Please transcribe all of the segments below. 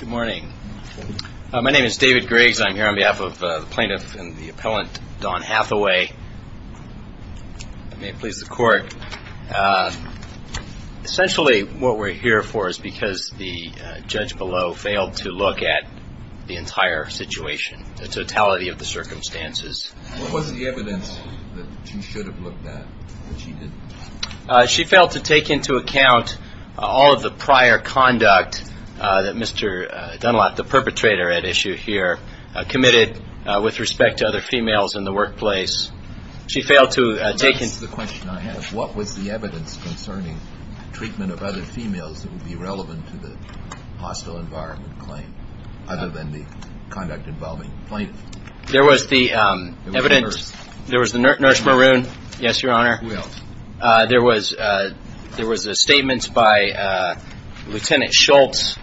Good morning. My name is David Griggs. I'm here on behalf of the plaintiff and the appellant, Don Hathaway. May it please the court. Essentially what we're here for is because the judge below failed to look at the entire situation, the totality of the circumstances. What was the evidence that she should have looked at that she didn't? She failed to take into account all of the prior conduct that Mr. Dunlap, the perpetrator at issue here, committed with respect to other females in the workplace. She failed to take into account... That's the question I have. What was the evidence concerning treatment of other females that would be relevant to the hostile environment claim, other than the conduct involving plaintiffs? There was the nurse maroon, yes, your honor. Who else? There was a statement by Lt. Schultz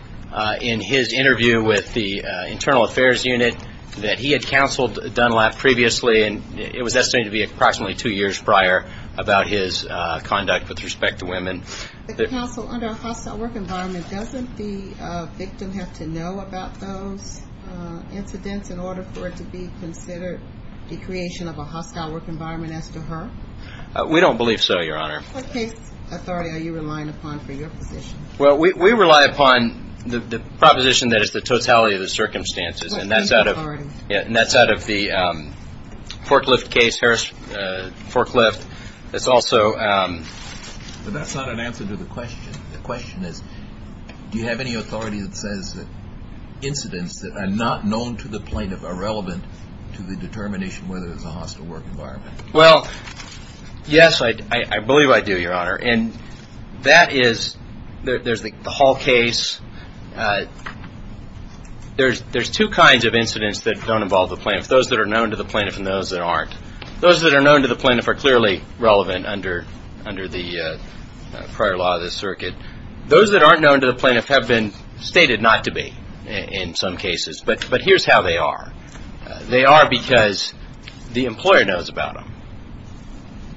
in his interview with the Internal Affairs Unit that he had counseled Dunlap previously, and it was estimated to be approximately two years prior about his conduct with respect to women. The counsel under a hostile work environment, doesn't the victim have to know about those incidents in order for it to be considered the creation of a hostile work environment as to her? We don't believe so, your honor. What case authority are you relying upon for your position? We rely upon the proposition that it's the totality of the circumstances, and that's out of the Forklift case, Harris Forklift. But that's not an answer to the question. The question is, do you have any authority that says that incidents that are not known to the plaintiff are relevant to the determination whether it's a hostile work environment? Well, yes, I believe I do, your honor. And that is, there's the Hall case, there's two kinds of incidents that don't involve the plaintiff. Those that are known to the plaintiff and those that aren't. Those that are known to the plaintiff are clearly relevant under the prior law of this circuit. Those that aren't known to the plaintiff have been stated not to be in some cases. But here's how they are. They are because the employer knows about them.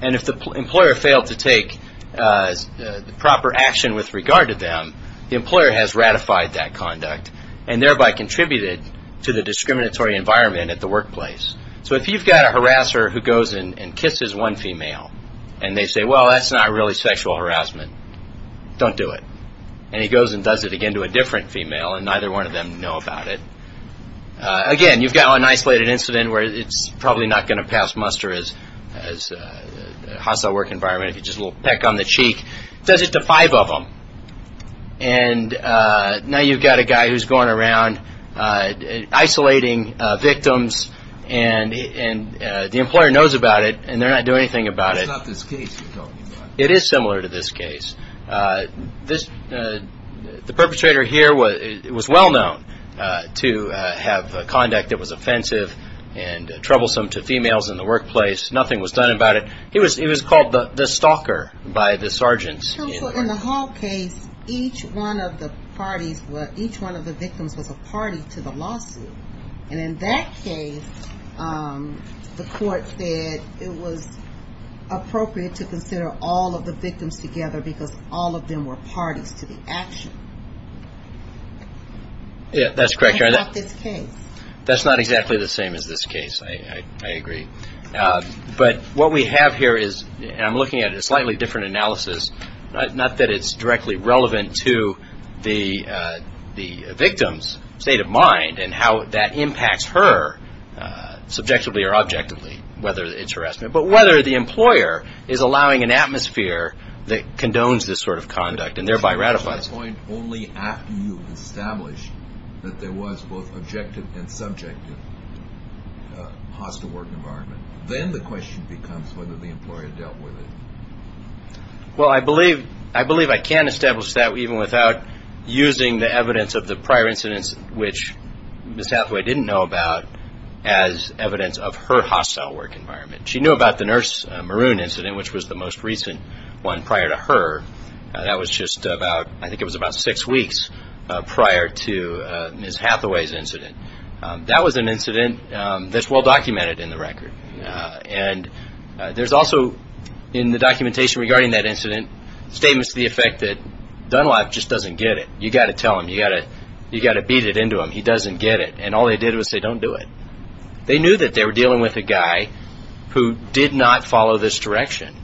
And if the employer failed to take the proper action with regard to them, the employer has ratified that conduct and thereby contributed to the discriminatory environment at the workplace. So if you've got a harasser who goes and kisses one female, and they say, well, that's not really sexual harassment, don't do it. And he goes and does it again to a different female, and neither one of them know about it. Again, you've got an isolated incident where it's probably not going to pass muster as a hostile work environment. If you just a little peck on the cheek, does it to five of them. And now you've got a guy who's going around isolating victims, and the employer knows about it, and they're not doing anything about it. That's not this case you're talking about. It is similar to this case. The perpetrator here was well-known to have conduct that was offensive and troublesome to females in the workplace. Nothing was done about it. He was called the stalker by the sergeants. So in the Hall case, each one of the parties, each one of the victims was a party to the lawsuit. And in that case, the court said it was appropriate to consider all of the victims together because all of them were parties to the action. And it's not this case. That's not exactly the same as this case, I agree. But what we have here is, and I'm looking at a slightly different analysis, not that it's directly relevant to the victim's state of mind and how that impacts her subjectively or objectively, whether it's harassment, but whether the employer is allowing an atmosphere that condones this sort of conduct and thereby ratifies it. Only after you've established that there was both objective and subjective hostile work environment, then the question becomes whether the employer dealt with it. Well I believe I can establish that even without using the evidence of the prior incidents which Ms. Hathaway didn't know about as evidence of her hostile work environment. She knew about the Nurse Maroon incident, which was the most recent one prior to her. That was just about, I think it was about six weeks prior to Ms. Hathaway's incident. That was an incident that's well documented in the record. And there's also, in the documentation regarding that incident, statements to the effect that Dunlop just doesn't get it. You gotta tell him. You gotta beat it into him. He doesn't get it. And all they did was say, don't do it. They knew that they were dealing with a guy who did not follow this direction.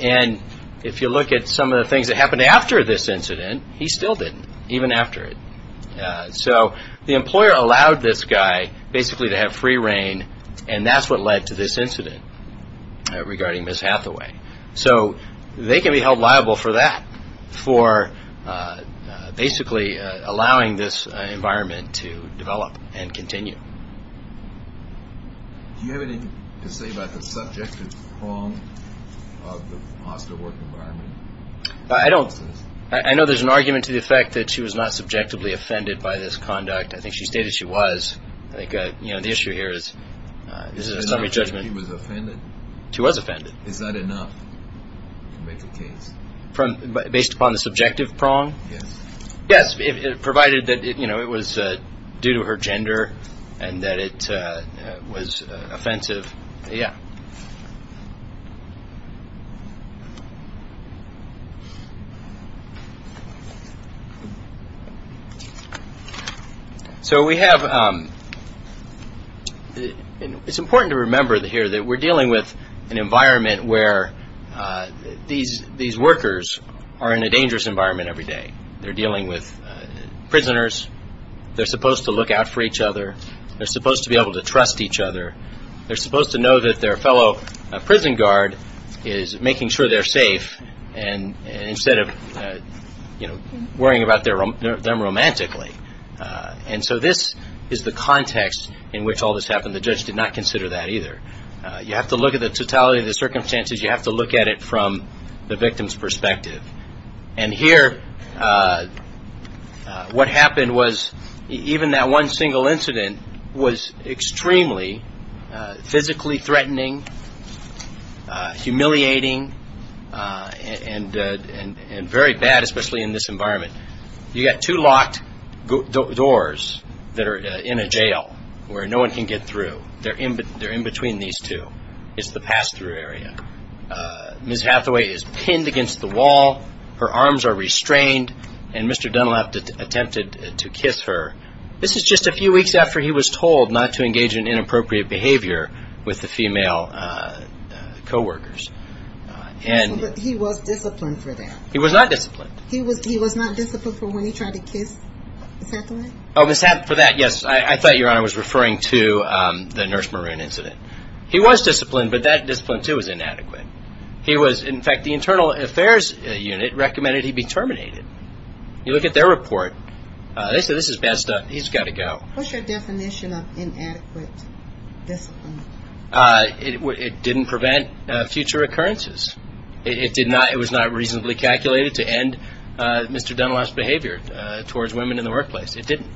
And if you look at some of the things that happened after this incident, he still didn't, even after it. So the employer allowed this guy basically to have free reign and that's what led to this incident regarding Ms. Hathaway. So they can be held liable for that, for basically allowing this environment to develop and continue. Do you have anything to say about the subjective prong of the foster work environment? I don't. I know there's an argument to the effect that she was not subjectively offended by this conduct. I think she stated she was. I think, you know, the issue here is, this is a summary judgment. She was offended? She was offended. Is that enough to make a case? Based upon the subjective prong? Yes. Yes, provided that it was due to her gender and that it was offensive. Yeah. So we have, it's important to remember here that we're dealing with an environment where these workers are in a dangerous environment every day. They're dealing with prisoners. They're supposed to look out for each other. They're supposed to be able to trust each other. They're supposed to know that their fellow prison guard is making sure they're safe and instead of, you know, worrying about them romantically. And so this is the context in which all this happened. The judge did not consider that either. You have to look at the totality of the circumstances. You have to look at it from the victim's perspective. And here, what happened was, even that one single incident was extremely physically threatening, humiliating, and very bad, especially in this environment. You got two locked doors that are in a jail where no one can get through. They're in between these two. It's the pass-through area. Ms. Hathaway is pinned against the wall. Her arms are restrained. And Mr. Dunlap attempted to kiss her. This is just a few weeks after he was told not to engage in inappropriate behavior with the female co-workers. But he was disciplined for that. He was not disciplined. He was not disciplined for when he tried to kiss Ms. Hathaway? Oh, Ms. Hathaway, for that, yes. I thought Your Honor was referring to the Nurse Maroon incident. He was disciplined, but that discipline, too, was inadequate. He was, in fact, the Internal Affairs Unit recommended he be terminated. You look at their report. They said, this is bad stuff. He's got to go. What's your definition of inadequate discipline? It didn't prevent future occurrences. It did not, it was not reasonably calculated to end Mr. Dunlap's behavior towards women in the workplace. It didn't.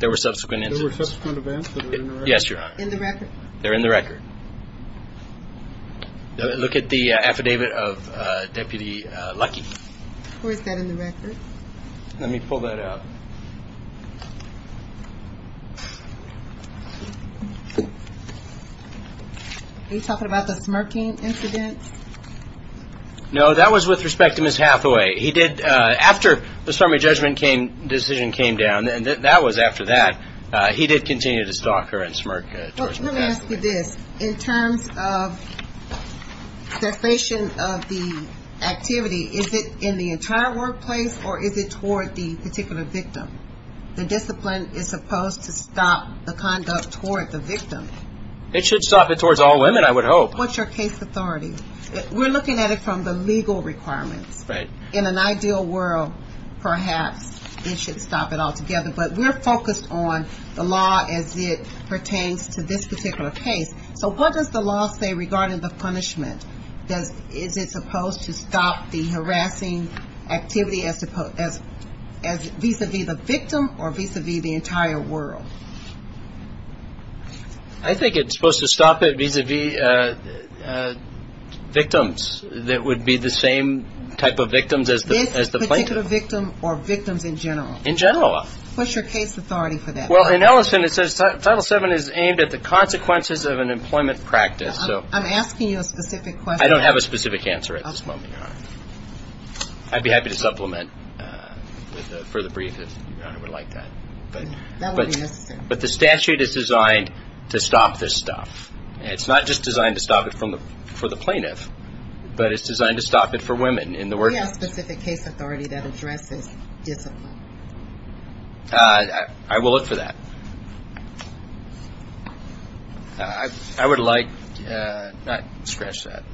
There were subsequent incidents. There were subsequent events that are in the record? Yes, Your Honor. They're in the record. Look at the affidavit of Deputy Lucky. Where is that in the record? Let me pull that up. Are you talking about the smirking incident? No, that was with respect to Ms. Hathaway. He did, after the summary judgment decision came down, and that was after that, he did continue to stalk her and smirk towards Ms. Hathaway. Let me ask you this. In terms of cessation of the activity, is it in the entire workplace, or is it toward the particular victim? The discipline is supposed to stop the conduct toward the victim. It should stop it towards all women, I would hope. What's your case authority? We're looking at it from the legal requirements. Right. In an ideal world, perhaps, it should stop it altogether, but we're focused on the law as it pertains to this particular case. So what does the law say regarding the punishment? Is it supposed to stop the harassing activity vis-a-vis the victim or vis-a-vis the entire world? I think it's supposed to stop it vis-a-vis victims that would be the same type of victims as the plaintiff. This particular victim or victims in general? In general. What's your case authority for that? In Ellison, it says Title VII is aimed at the consequences of an employment practice. I'm asking you a specific question. I don't have a specific answer at this moment, Your Honor. I'd be happy to supplement with a further brief if Your Honor would like that. That would be necessary. But the statute is designed to stop this stuff. It's not just designed to stop it for the plaintiff, but it's designed to stop it for women. Do you have a specific case authority that addresses discipline? I will look for that. I would like to not scratch that.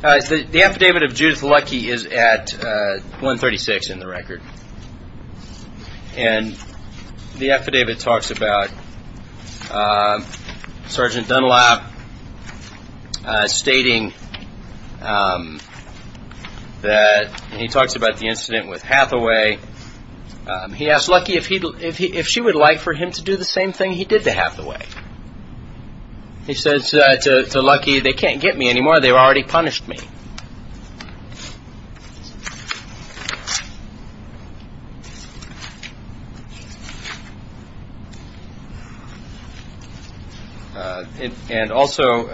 The affidavit of Judith Luckey is at 136 in the record. And the affidavit talks about Sergeant Dunlap stating that he talks about the incident with Hathaway. He asked Luckey if she would like for him to do the same thing he did to Hathaway. He says to Luckey, they can't get me anymore. They've already punished me. And also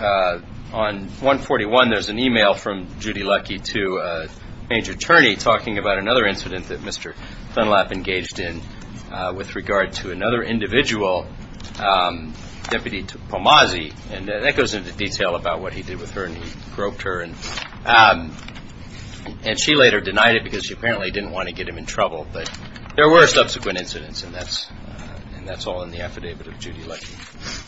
on 141, there's an e-mail from Judy Luckey to a major attorney talking about another incident that Mr. Dunlap engaged in with regard to another individual, Deputy Palmazzi. And that goes into detail about what he did with her and he groped her. And she later denied it because she apparently didn't want to get him in trouble. But there were subsequent incidents and that's all in the affidavit of Judy Luckey.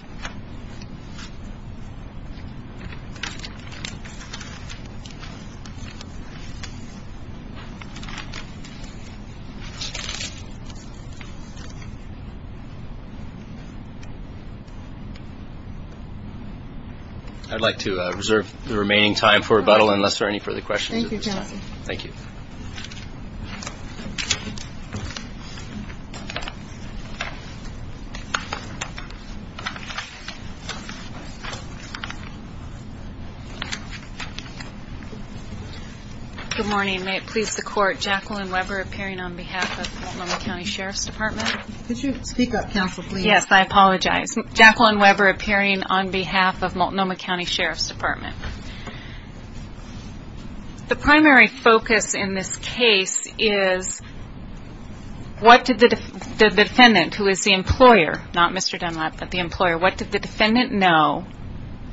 I'd like to reserve the remaining time for rebuttal unless there are any further questions. Thank you, counsel. Thank you. Good morning. May it please the court, Jacqueline Weber appearing on behalf of Multnomah County Sheriff's Department. Could you speak up, counsel, please? Yes, I apologize. Jacqueline Weber appearing on behalf of Multnomah County Sheriff's Department. The primary focus in this case is what did the defendant, who is the employer, not Mr. Dunlap, but the employer, what did the defendant know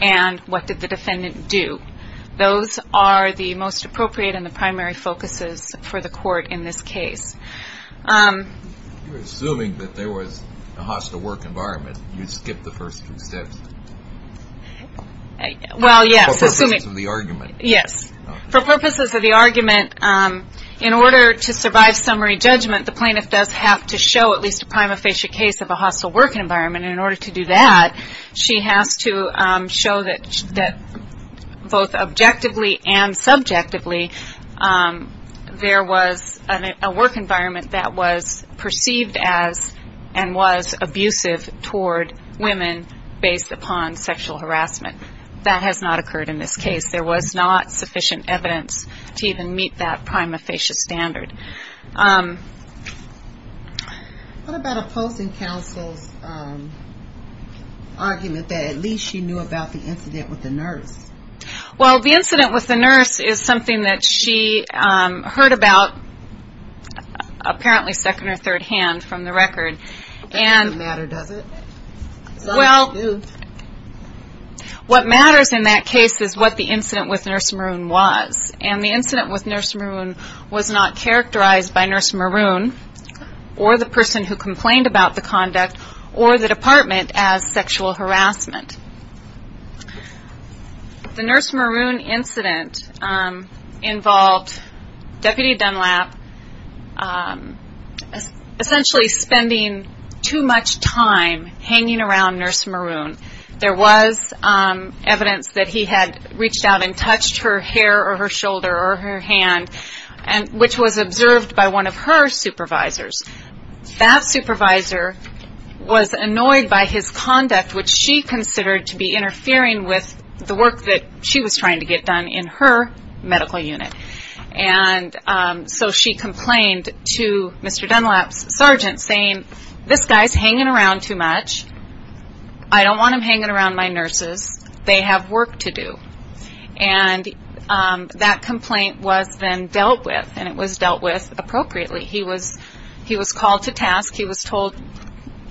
and what did the defendant do? Those are the most appropriate and the primary focuses for the court in this case. You're assuming that there was a hostile work environment. You skipped the first three steps. Well, yes. For purposes of the argument. Yes. For purposes of the argument, in order to survive summary judgment, the plaintiff does have to show at least a prima facie case of a hostile work environment. In order to do that, she has to show that both objectively and subjectively there was a work environment that was perceived as and was abusive toward women based upon sexual harassment. That has not occurred in this case. There was not sufficient evidence to even meet that prima facie standard. What about opposing counsel's argument that at least she knew about the incident with the nurse? Well, the incident with the nurse is something that she heard about apparently second or third hand from the record. It doesn't matter, does it? Well, what matters in that case is what the incident with Nurse Maroon was. And the incident with Nurse Maroon was not characterized by Nurse Maroon or the person who complained about the conduct or the department as sexual harassment. The Nurse Maroon incident involved Deputy Dunlap essentially spending too much time hanging around Nurse Maroon. There was evidence that he had reached out and touched her hair or her shoulder or her hand, which was observed by one of her supervisors. That supervisor was annoyed by his conduct, which she considered to be interfering with the work that she was trying to get done in her medical unit. And so she complained to Mr. Dunlap's sergeant, saying, this guy's hanging around too much. I don't want him hanging around my nurses. They have work to do. And that complaint was then dealt with, and it was dealt with appropriately. He was called to task. He was told,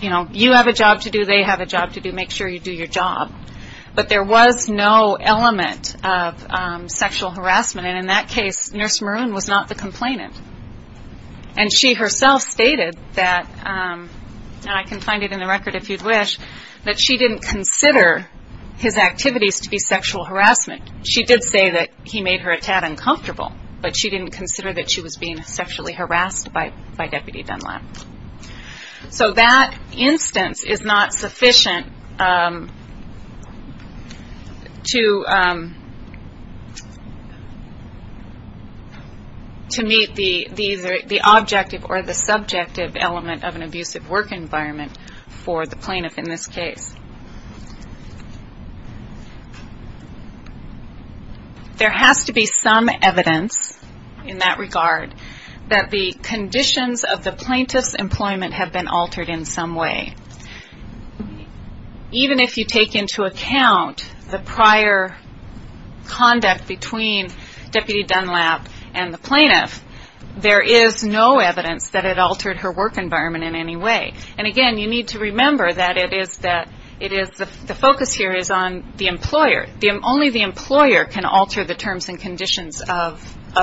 you know, you have a job to do, they have a job to do. Make sure you do your job. But there was no element of sexual harassment. And in that case, Nurse Maroon was not the complainant. And she herself stated that, and I can find it in the record if you'd wish, that she didn't consider his activities to be sexual harassment. She did say that he made her a tad uncomfortable, but she didn't consider that she was being sexually harassed by Deputy Dunlap. So that instance is not sufficient to meet the objective or the subjective element of an abusive work environment for the plaintiff in this case. There has to be some evidence in that regard that the conditions of the plaintiff's employment have been altered in some way. Even if you take into account the prior conduct between Deputy Dunlap and the plaintiff, there is no evidence that it altered her work environment in any way. And again, you need to remember that the focus here is on the employer. Only the employer can alter the terms and conditions of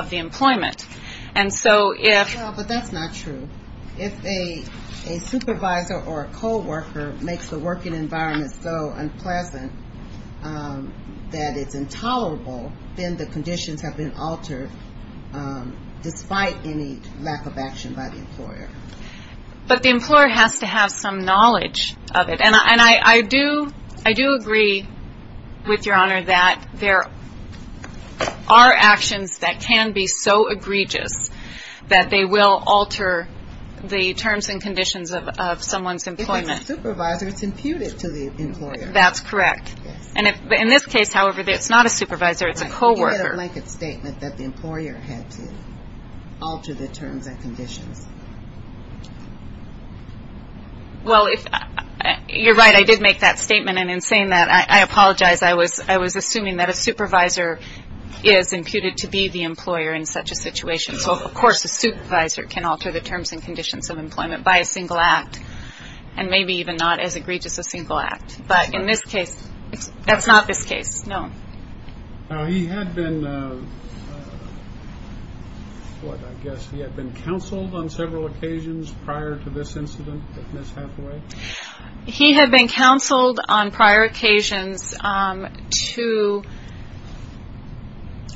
the employment. But that's not true. If a supervisor or a co-worker makes the working environment so unpleasant that it's intolerable, then the conditions have been altered despite any lack of action by the employer. But the employer has to have some knowledge of it. And I do agree with Your Honor that there are actions that can be so egregious that they will alter the terms and conditions of someone's employment. If it's a supervisor, it's imputed to the employer. That's correct. In this case, however, it's not a supervisor, it's a co-worker. You made a blanket statement that the employer had to alter the terms and conditions. Well, you're right. I did make that statement. And in saying that, I apologize. I was assuming that a supervisor is imputed to be the employer in such a situation. So, of course, a supervisor can alter the terms and conditions of employment by a single act, and maybe even not as egregious a single act. But in this case, that's not this case, no. Now, he had been, what, I guess he had been counseled on several occasions prior to this incident with Ms. Hathaway? He had been counseled on prior occasions to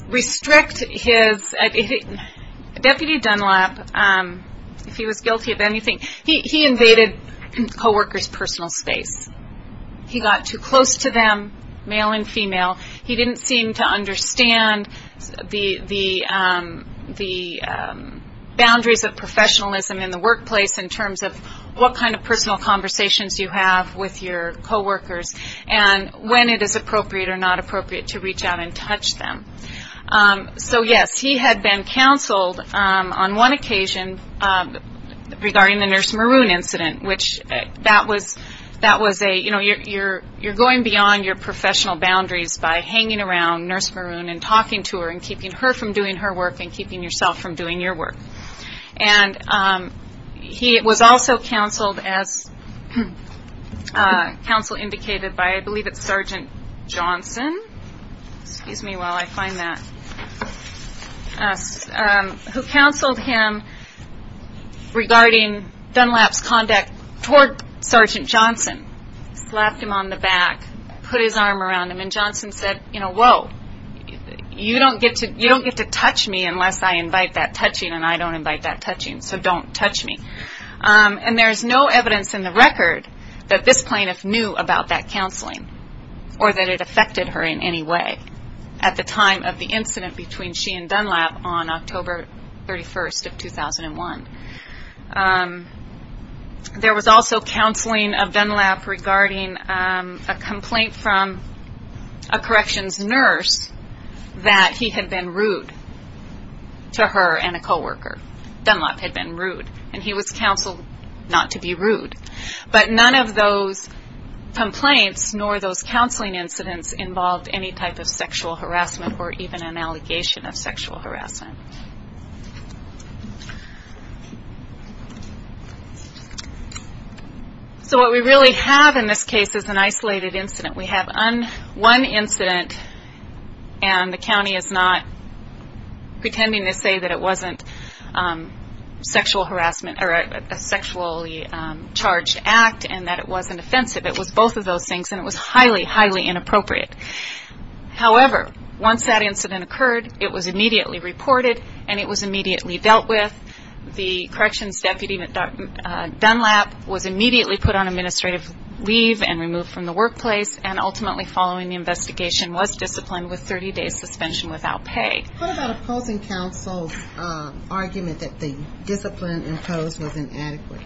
restrict his, Deputy Dunlap, if he was guilty of anything, he invaded co-workers' personal space. He got too close to them, male and female. He didn't seem to understand the boundaries of professionalism in the workplace in terms of what kind of personal conversations you have with your co-workers and when it is appropriate or not appropriate to reach out and touch them. So, yes, he had been counseled on one occasion regarding the Nurse Maroon incident, which that was a, you know, you're going beyond your professional boundaries by hanging around Nurse Maroon and talking to her and keeping her from doing her work and keeping yourself from doing your work. And he was also counseled as counsel indicated by, I believe it's Sergeant Johnson, excuse me while I find that, who counseled him regarding Dunlap's conduct toward Sergeant Johnson, slapped him on the back, put his arm around him, and Johnson said, you know, whoa, you don't get to touch me unless I invite that touching and I don't invite that touching, so don't touch me. And there's no evidence in the record that this plaintiff knew about that counseling or that it affected her in any way at the time of the incident between she and Dunlap on October 31st of 2001. There was also counseling of Dunlap regarding a complaint from a corrections nurse that he had been rude to her and a co-worker. Dunlap had been rude and he was counseled not to be rude. But none of those complaints nor those counseling incidents involved any type of sexual harassment or even an allegation of sexual harassment. So what we really have in this case is an isolated incident. We have one incident and the county is not pretending to say that it wasn't sexual harassment or a sexually charged act and that it wasn't offensive. It was both of those things and it was highly, highly inappropriate. However, once that incident occurred, it was immediately reported and it was immediately dealt with. The corrections deputy, Dunlap, was immediately put on administrative leave and removed from the workplace and ultimately following the investigation was disciplined with 30 days suspension without pay. What about opposing counsel's argument that the discipline imposed was inadequate?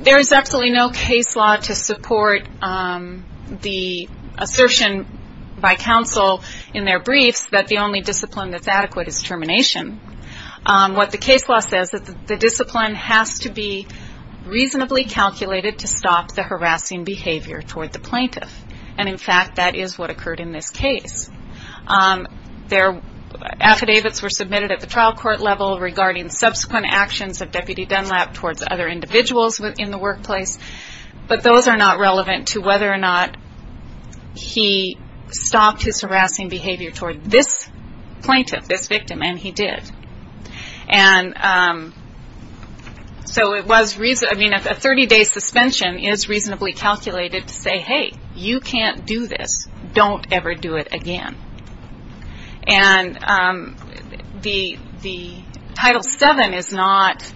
There is absolutely no case law to support the assertion by counsel in their briefs that the only discipline that's adequate is termination. What the case law says is that the discipline has to be reasonably calculated to stop the harassing behavior toward the plaintiff. And in fact, that is what occurred in this case. Affidavits were submitted at the trial court level regarding subsequent actions of Deputy Dunlap towards other individuals in the workplace. But those are not relevant to whether or not he stopped his harassing behavior toward this plaintiff, this victim, and he did. A 30 day suspension is reasonably calculated to say, hey, you can't do this, don't ever do it again. And the Title VII is not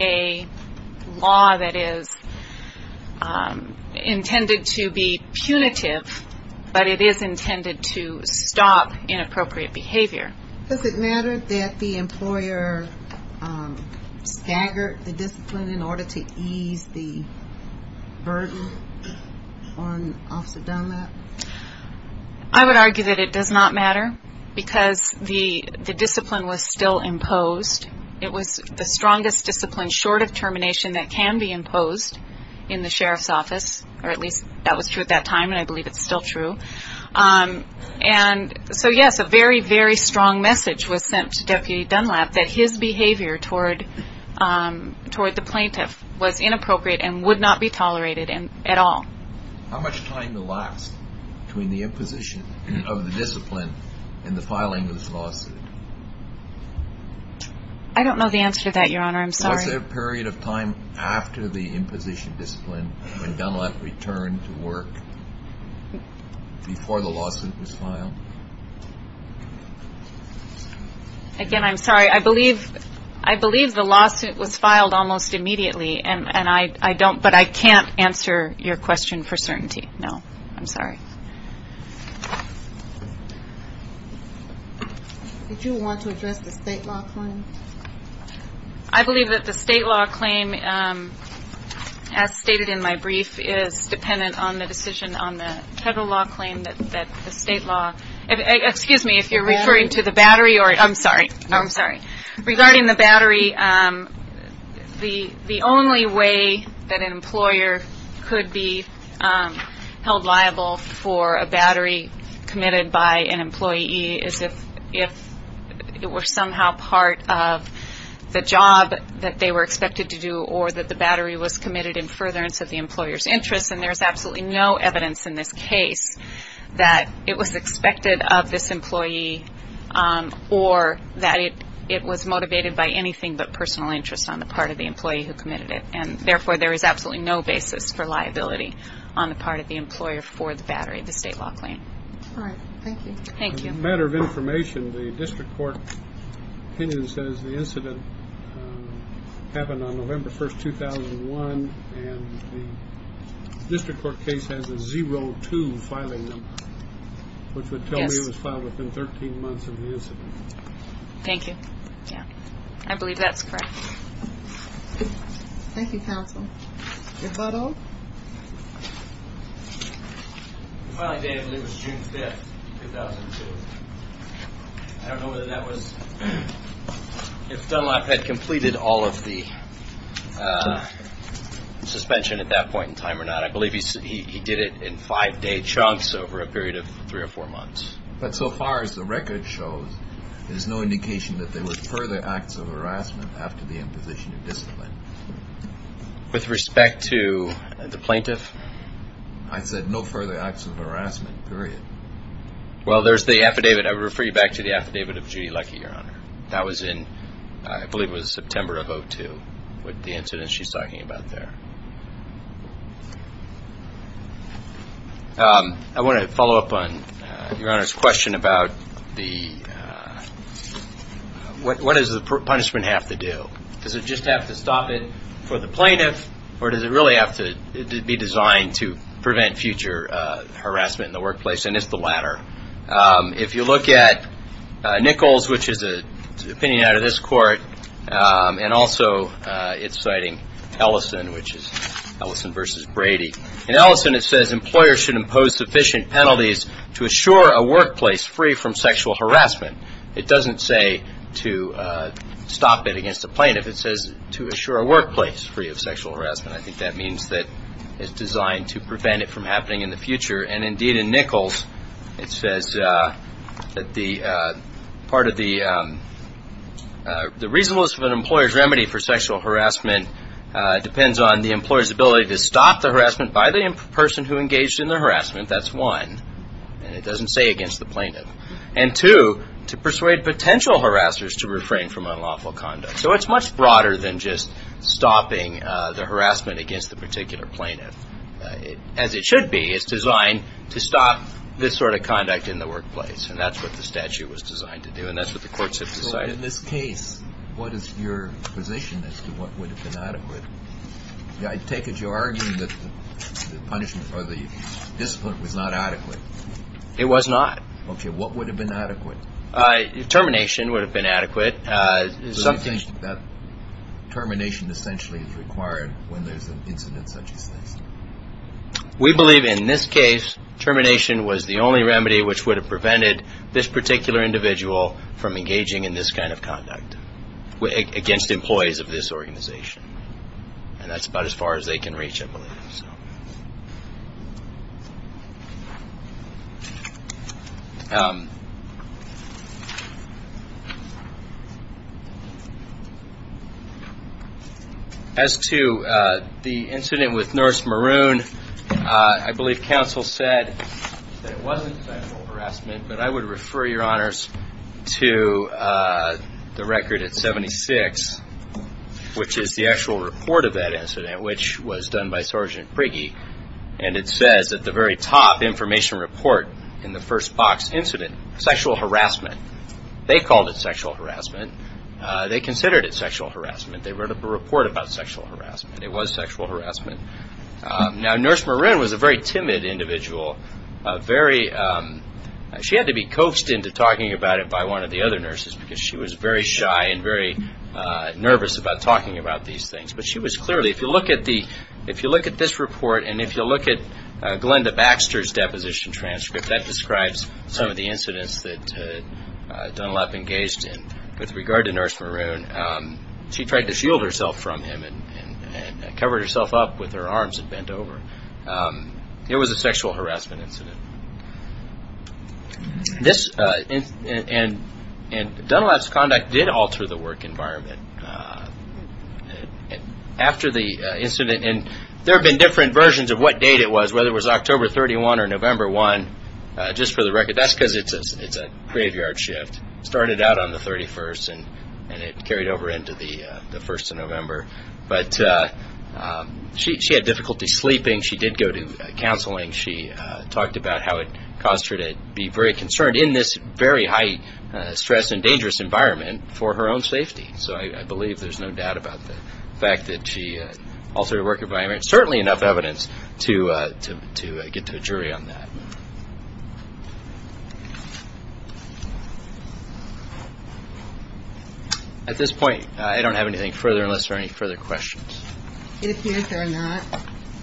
a law that is intended to be punitive, but it is intended to stop inappropriate behavior. Does it matter that the employer staggered the discipline in order to ease the burden on Officer Dunlap? I would argue that it does not matter because the discipline was still imposed. It was the strongest discipline short of termination that can be imposed in the Sheriff's Office, or at least that was true at that time and I believe it's still true. And so yes, a very, very strong message was sent to Deputy Dunlap that his behavior toward the plaintiff was inappropriate and would not be tolerated at all. How much time to last between the imposition of the discipline and the filing of this lawsuit? I don't know the answer to that, Your Honor, I'm sorry. Was there a period of time after the imposition of discipline when Dunlap returned to work before the lawsuit was filed? Again, I'm sorry, I believe the lawsuit was filed almost immediately, but I can't answer your question for certainty, no, I'm sorry. Did you want to address the state law claim? I believe that the state law claim, as stated in my brief, is dependent on the decision on the federal law claim that the state law, excuse me, if you're referring to the battery, I'm sorry, I'm sorry. the job that they were expected to do or that the battery was committed in furtherance of the employer's interest, and there's absolutely no evidence in this case that it was expected of this employee or that it was motivated by anything but personal interest on the part of the employee who committed it. And therefore, there is absolutely no basis for liability on the part of the employer for the battery, the state law claim. All right, thank you. Thank you. As a matter of information, the district court opinion says the incident happened on November 1, 2001, and the district court case has a 0-2 filing number, which would tell me it was filed within 13 months of the incident. Thank you. Yeah, I believe that's correct. Thank you, counsel. Is that all? The filing date, I believe, was June 5, 2002. I don't know whether that was if Dunlop had completed all of the suspension at that point in time or not. I believe he did it in five-day chunks over a period of three or four months. But so far as the record shows, there's no indication that there were further acts of harassment after the imposition of discipline. With respect to the plaintiff? I said no further acts of harassment, period. Well, there's the affidavit. I would refer you back to the affidavit of Judy Luckey, Your Honor. That was in, I believe it was September of 2002, with the incident she's talking about there. I want to follow up on Your Honor's question about what does the punishment have to do? Does it just have to stop it for the plaintiff, or does it really have to be designed to prevent future harassment in the workplace? And it's the latter. If you look at Nichols, which is an opinion out of this court, and also it's citing Ellison, which is Ellison v. Brady. In Ellison it says employers should impose sufficient penalties to assure a workplace free from sexual harassment. It doesn't say to stop it against the plaintiff. It says to assure a workplace free of sexual harassment. I think that means that it's designed to prevent it from happening in the future. And, indeed, in Nichols it says that part of the reasonableness of an employer's remedy for sexual harassment depends on the employer's ability to stop the harassment by the person who engaged in the harassment. That's one. And it doesn't say against the plaintiff. And, two, to persuade potential harassers to refrain from unlawful conduct. So it's much broader than just stopping the harassment against the particular plaintiff. As it should be, it's designed to stop this sort of conduct in the workplace. And that's what the statute was designed to do, and that's what the courts have decided. So in this case, what is your position as to what would have been adequate? I take it you're arguing that the punishment or the discipline was not adequate. It was not. Okay. What would have been adequate? Termination would have been adequate. So you think that termination essentially is required when there's an incident such as this? We believe in this case termination was the only remedy which would have prevented this particular individual from engaging in this kind of conduct against employees of this organization. And that's about as far as they can reach, I believe. As to the incident with Nurse Maroon, I believe counsel said that it wasn't sexual harassment, but I would refer, Your Honors, to the record at 76, which is the actual report of that incident, which was done by Sergeant Prigge. And it says at the very top, information report in the first box, incident, sexual harassment. They called it sexual harassment. They considered it sexual harassment. They wrote up a report about sexual harassment. It was sexual harassment. Now, Nurse Maroon was a very timid individual. She had to be coaxed into talking about it by one of the other nurses because she was very shy and very nervous about talking about these things. But she was clearly, if you look at this report and if you look at Glenda Baxter's deposition transcript, that describes some of the incidents that Dunlap engaged in. With regard to Nurse Maroon, she tried to shield herself from him and covered herself up with her arms and bent over. It was a sexual harassment incident. And Dunlap's conduct did alter the work environment. After the incident, and there have been different versions of what date it was, whether it was October 31 or November 1, just for the record, that's because it's a graveyard shift. It started out on the 31st and it carried over into the 1st of November. But she had difficulty sleeping. She did go to counseling. She talked about how it caused her to be very concerned in this very high stress and dangerous environment for her own safety. So I believe there's no doubt about the fact that she altered the work environment. There's certainly enough evidence to get to a jury on that. At this point, I don't have anything further unless there are any further questions. It appears there are not.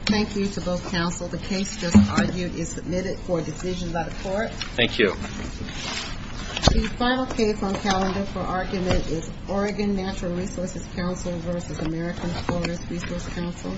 Thank you to both counsel. The case just argued is submitted for decision by the court. Thank you. The final case on calendar for argument is Oregon Natural Resources Council versus American Forest Resource Council. Thank you.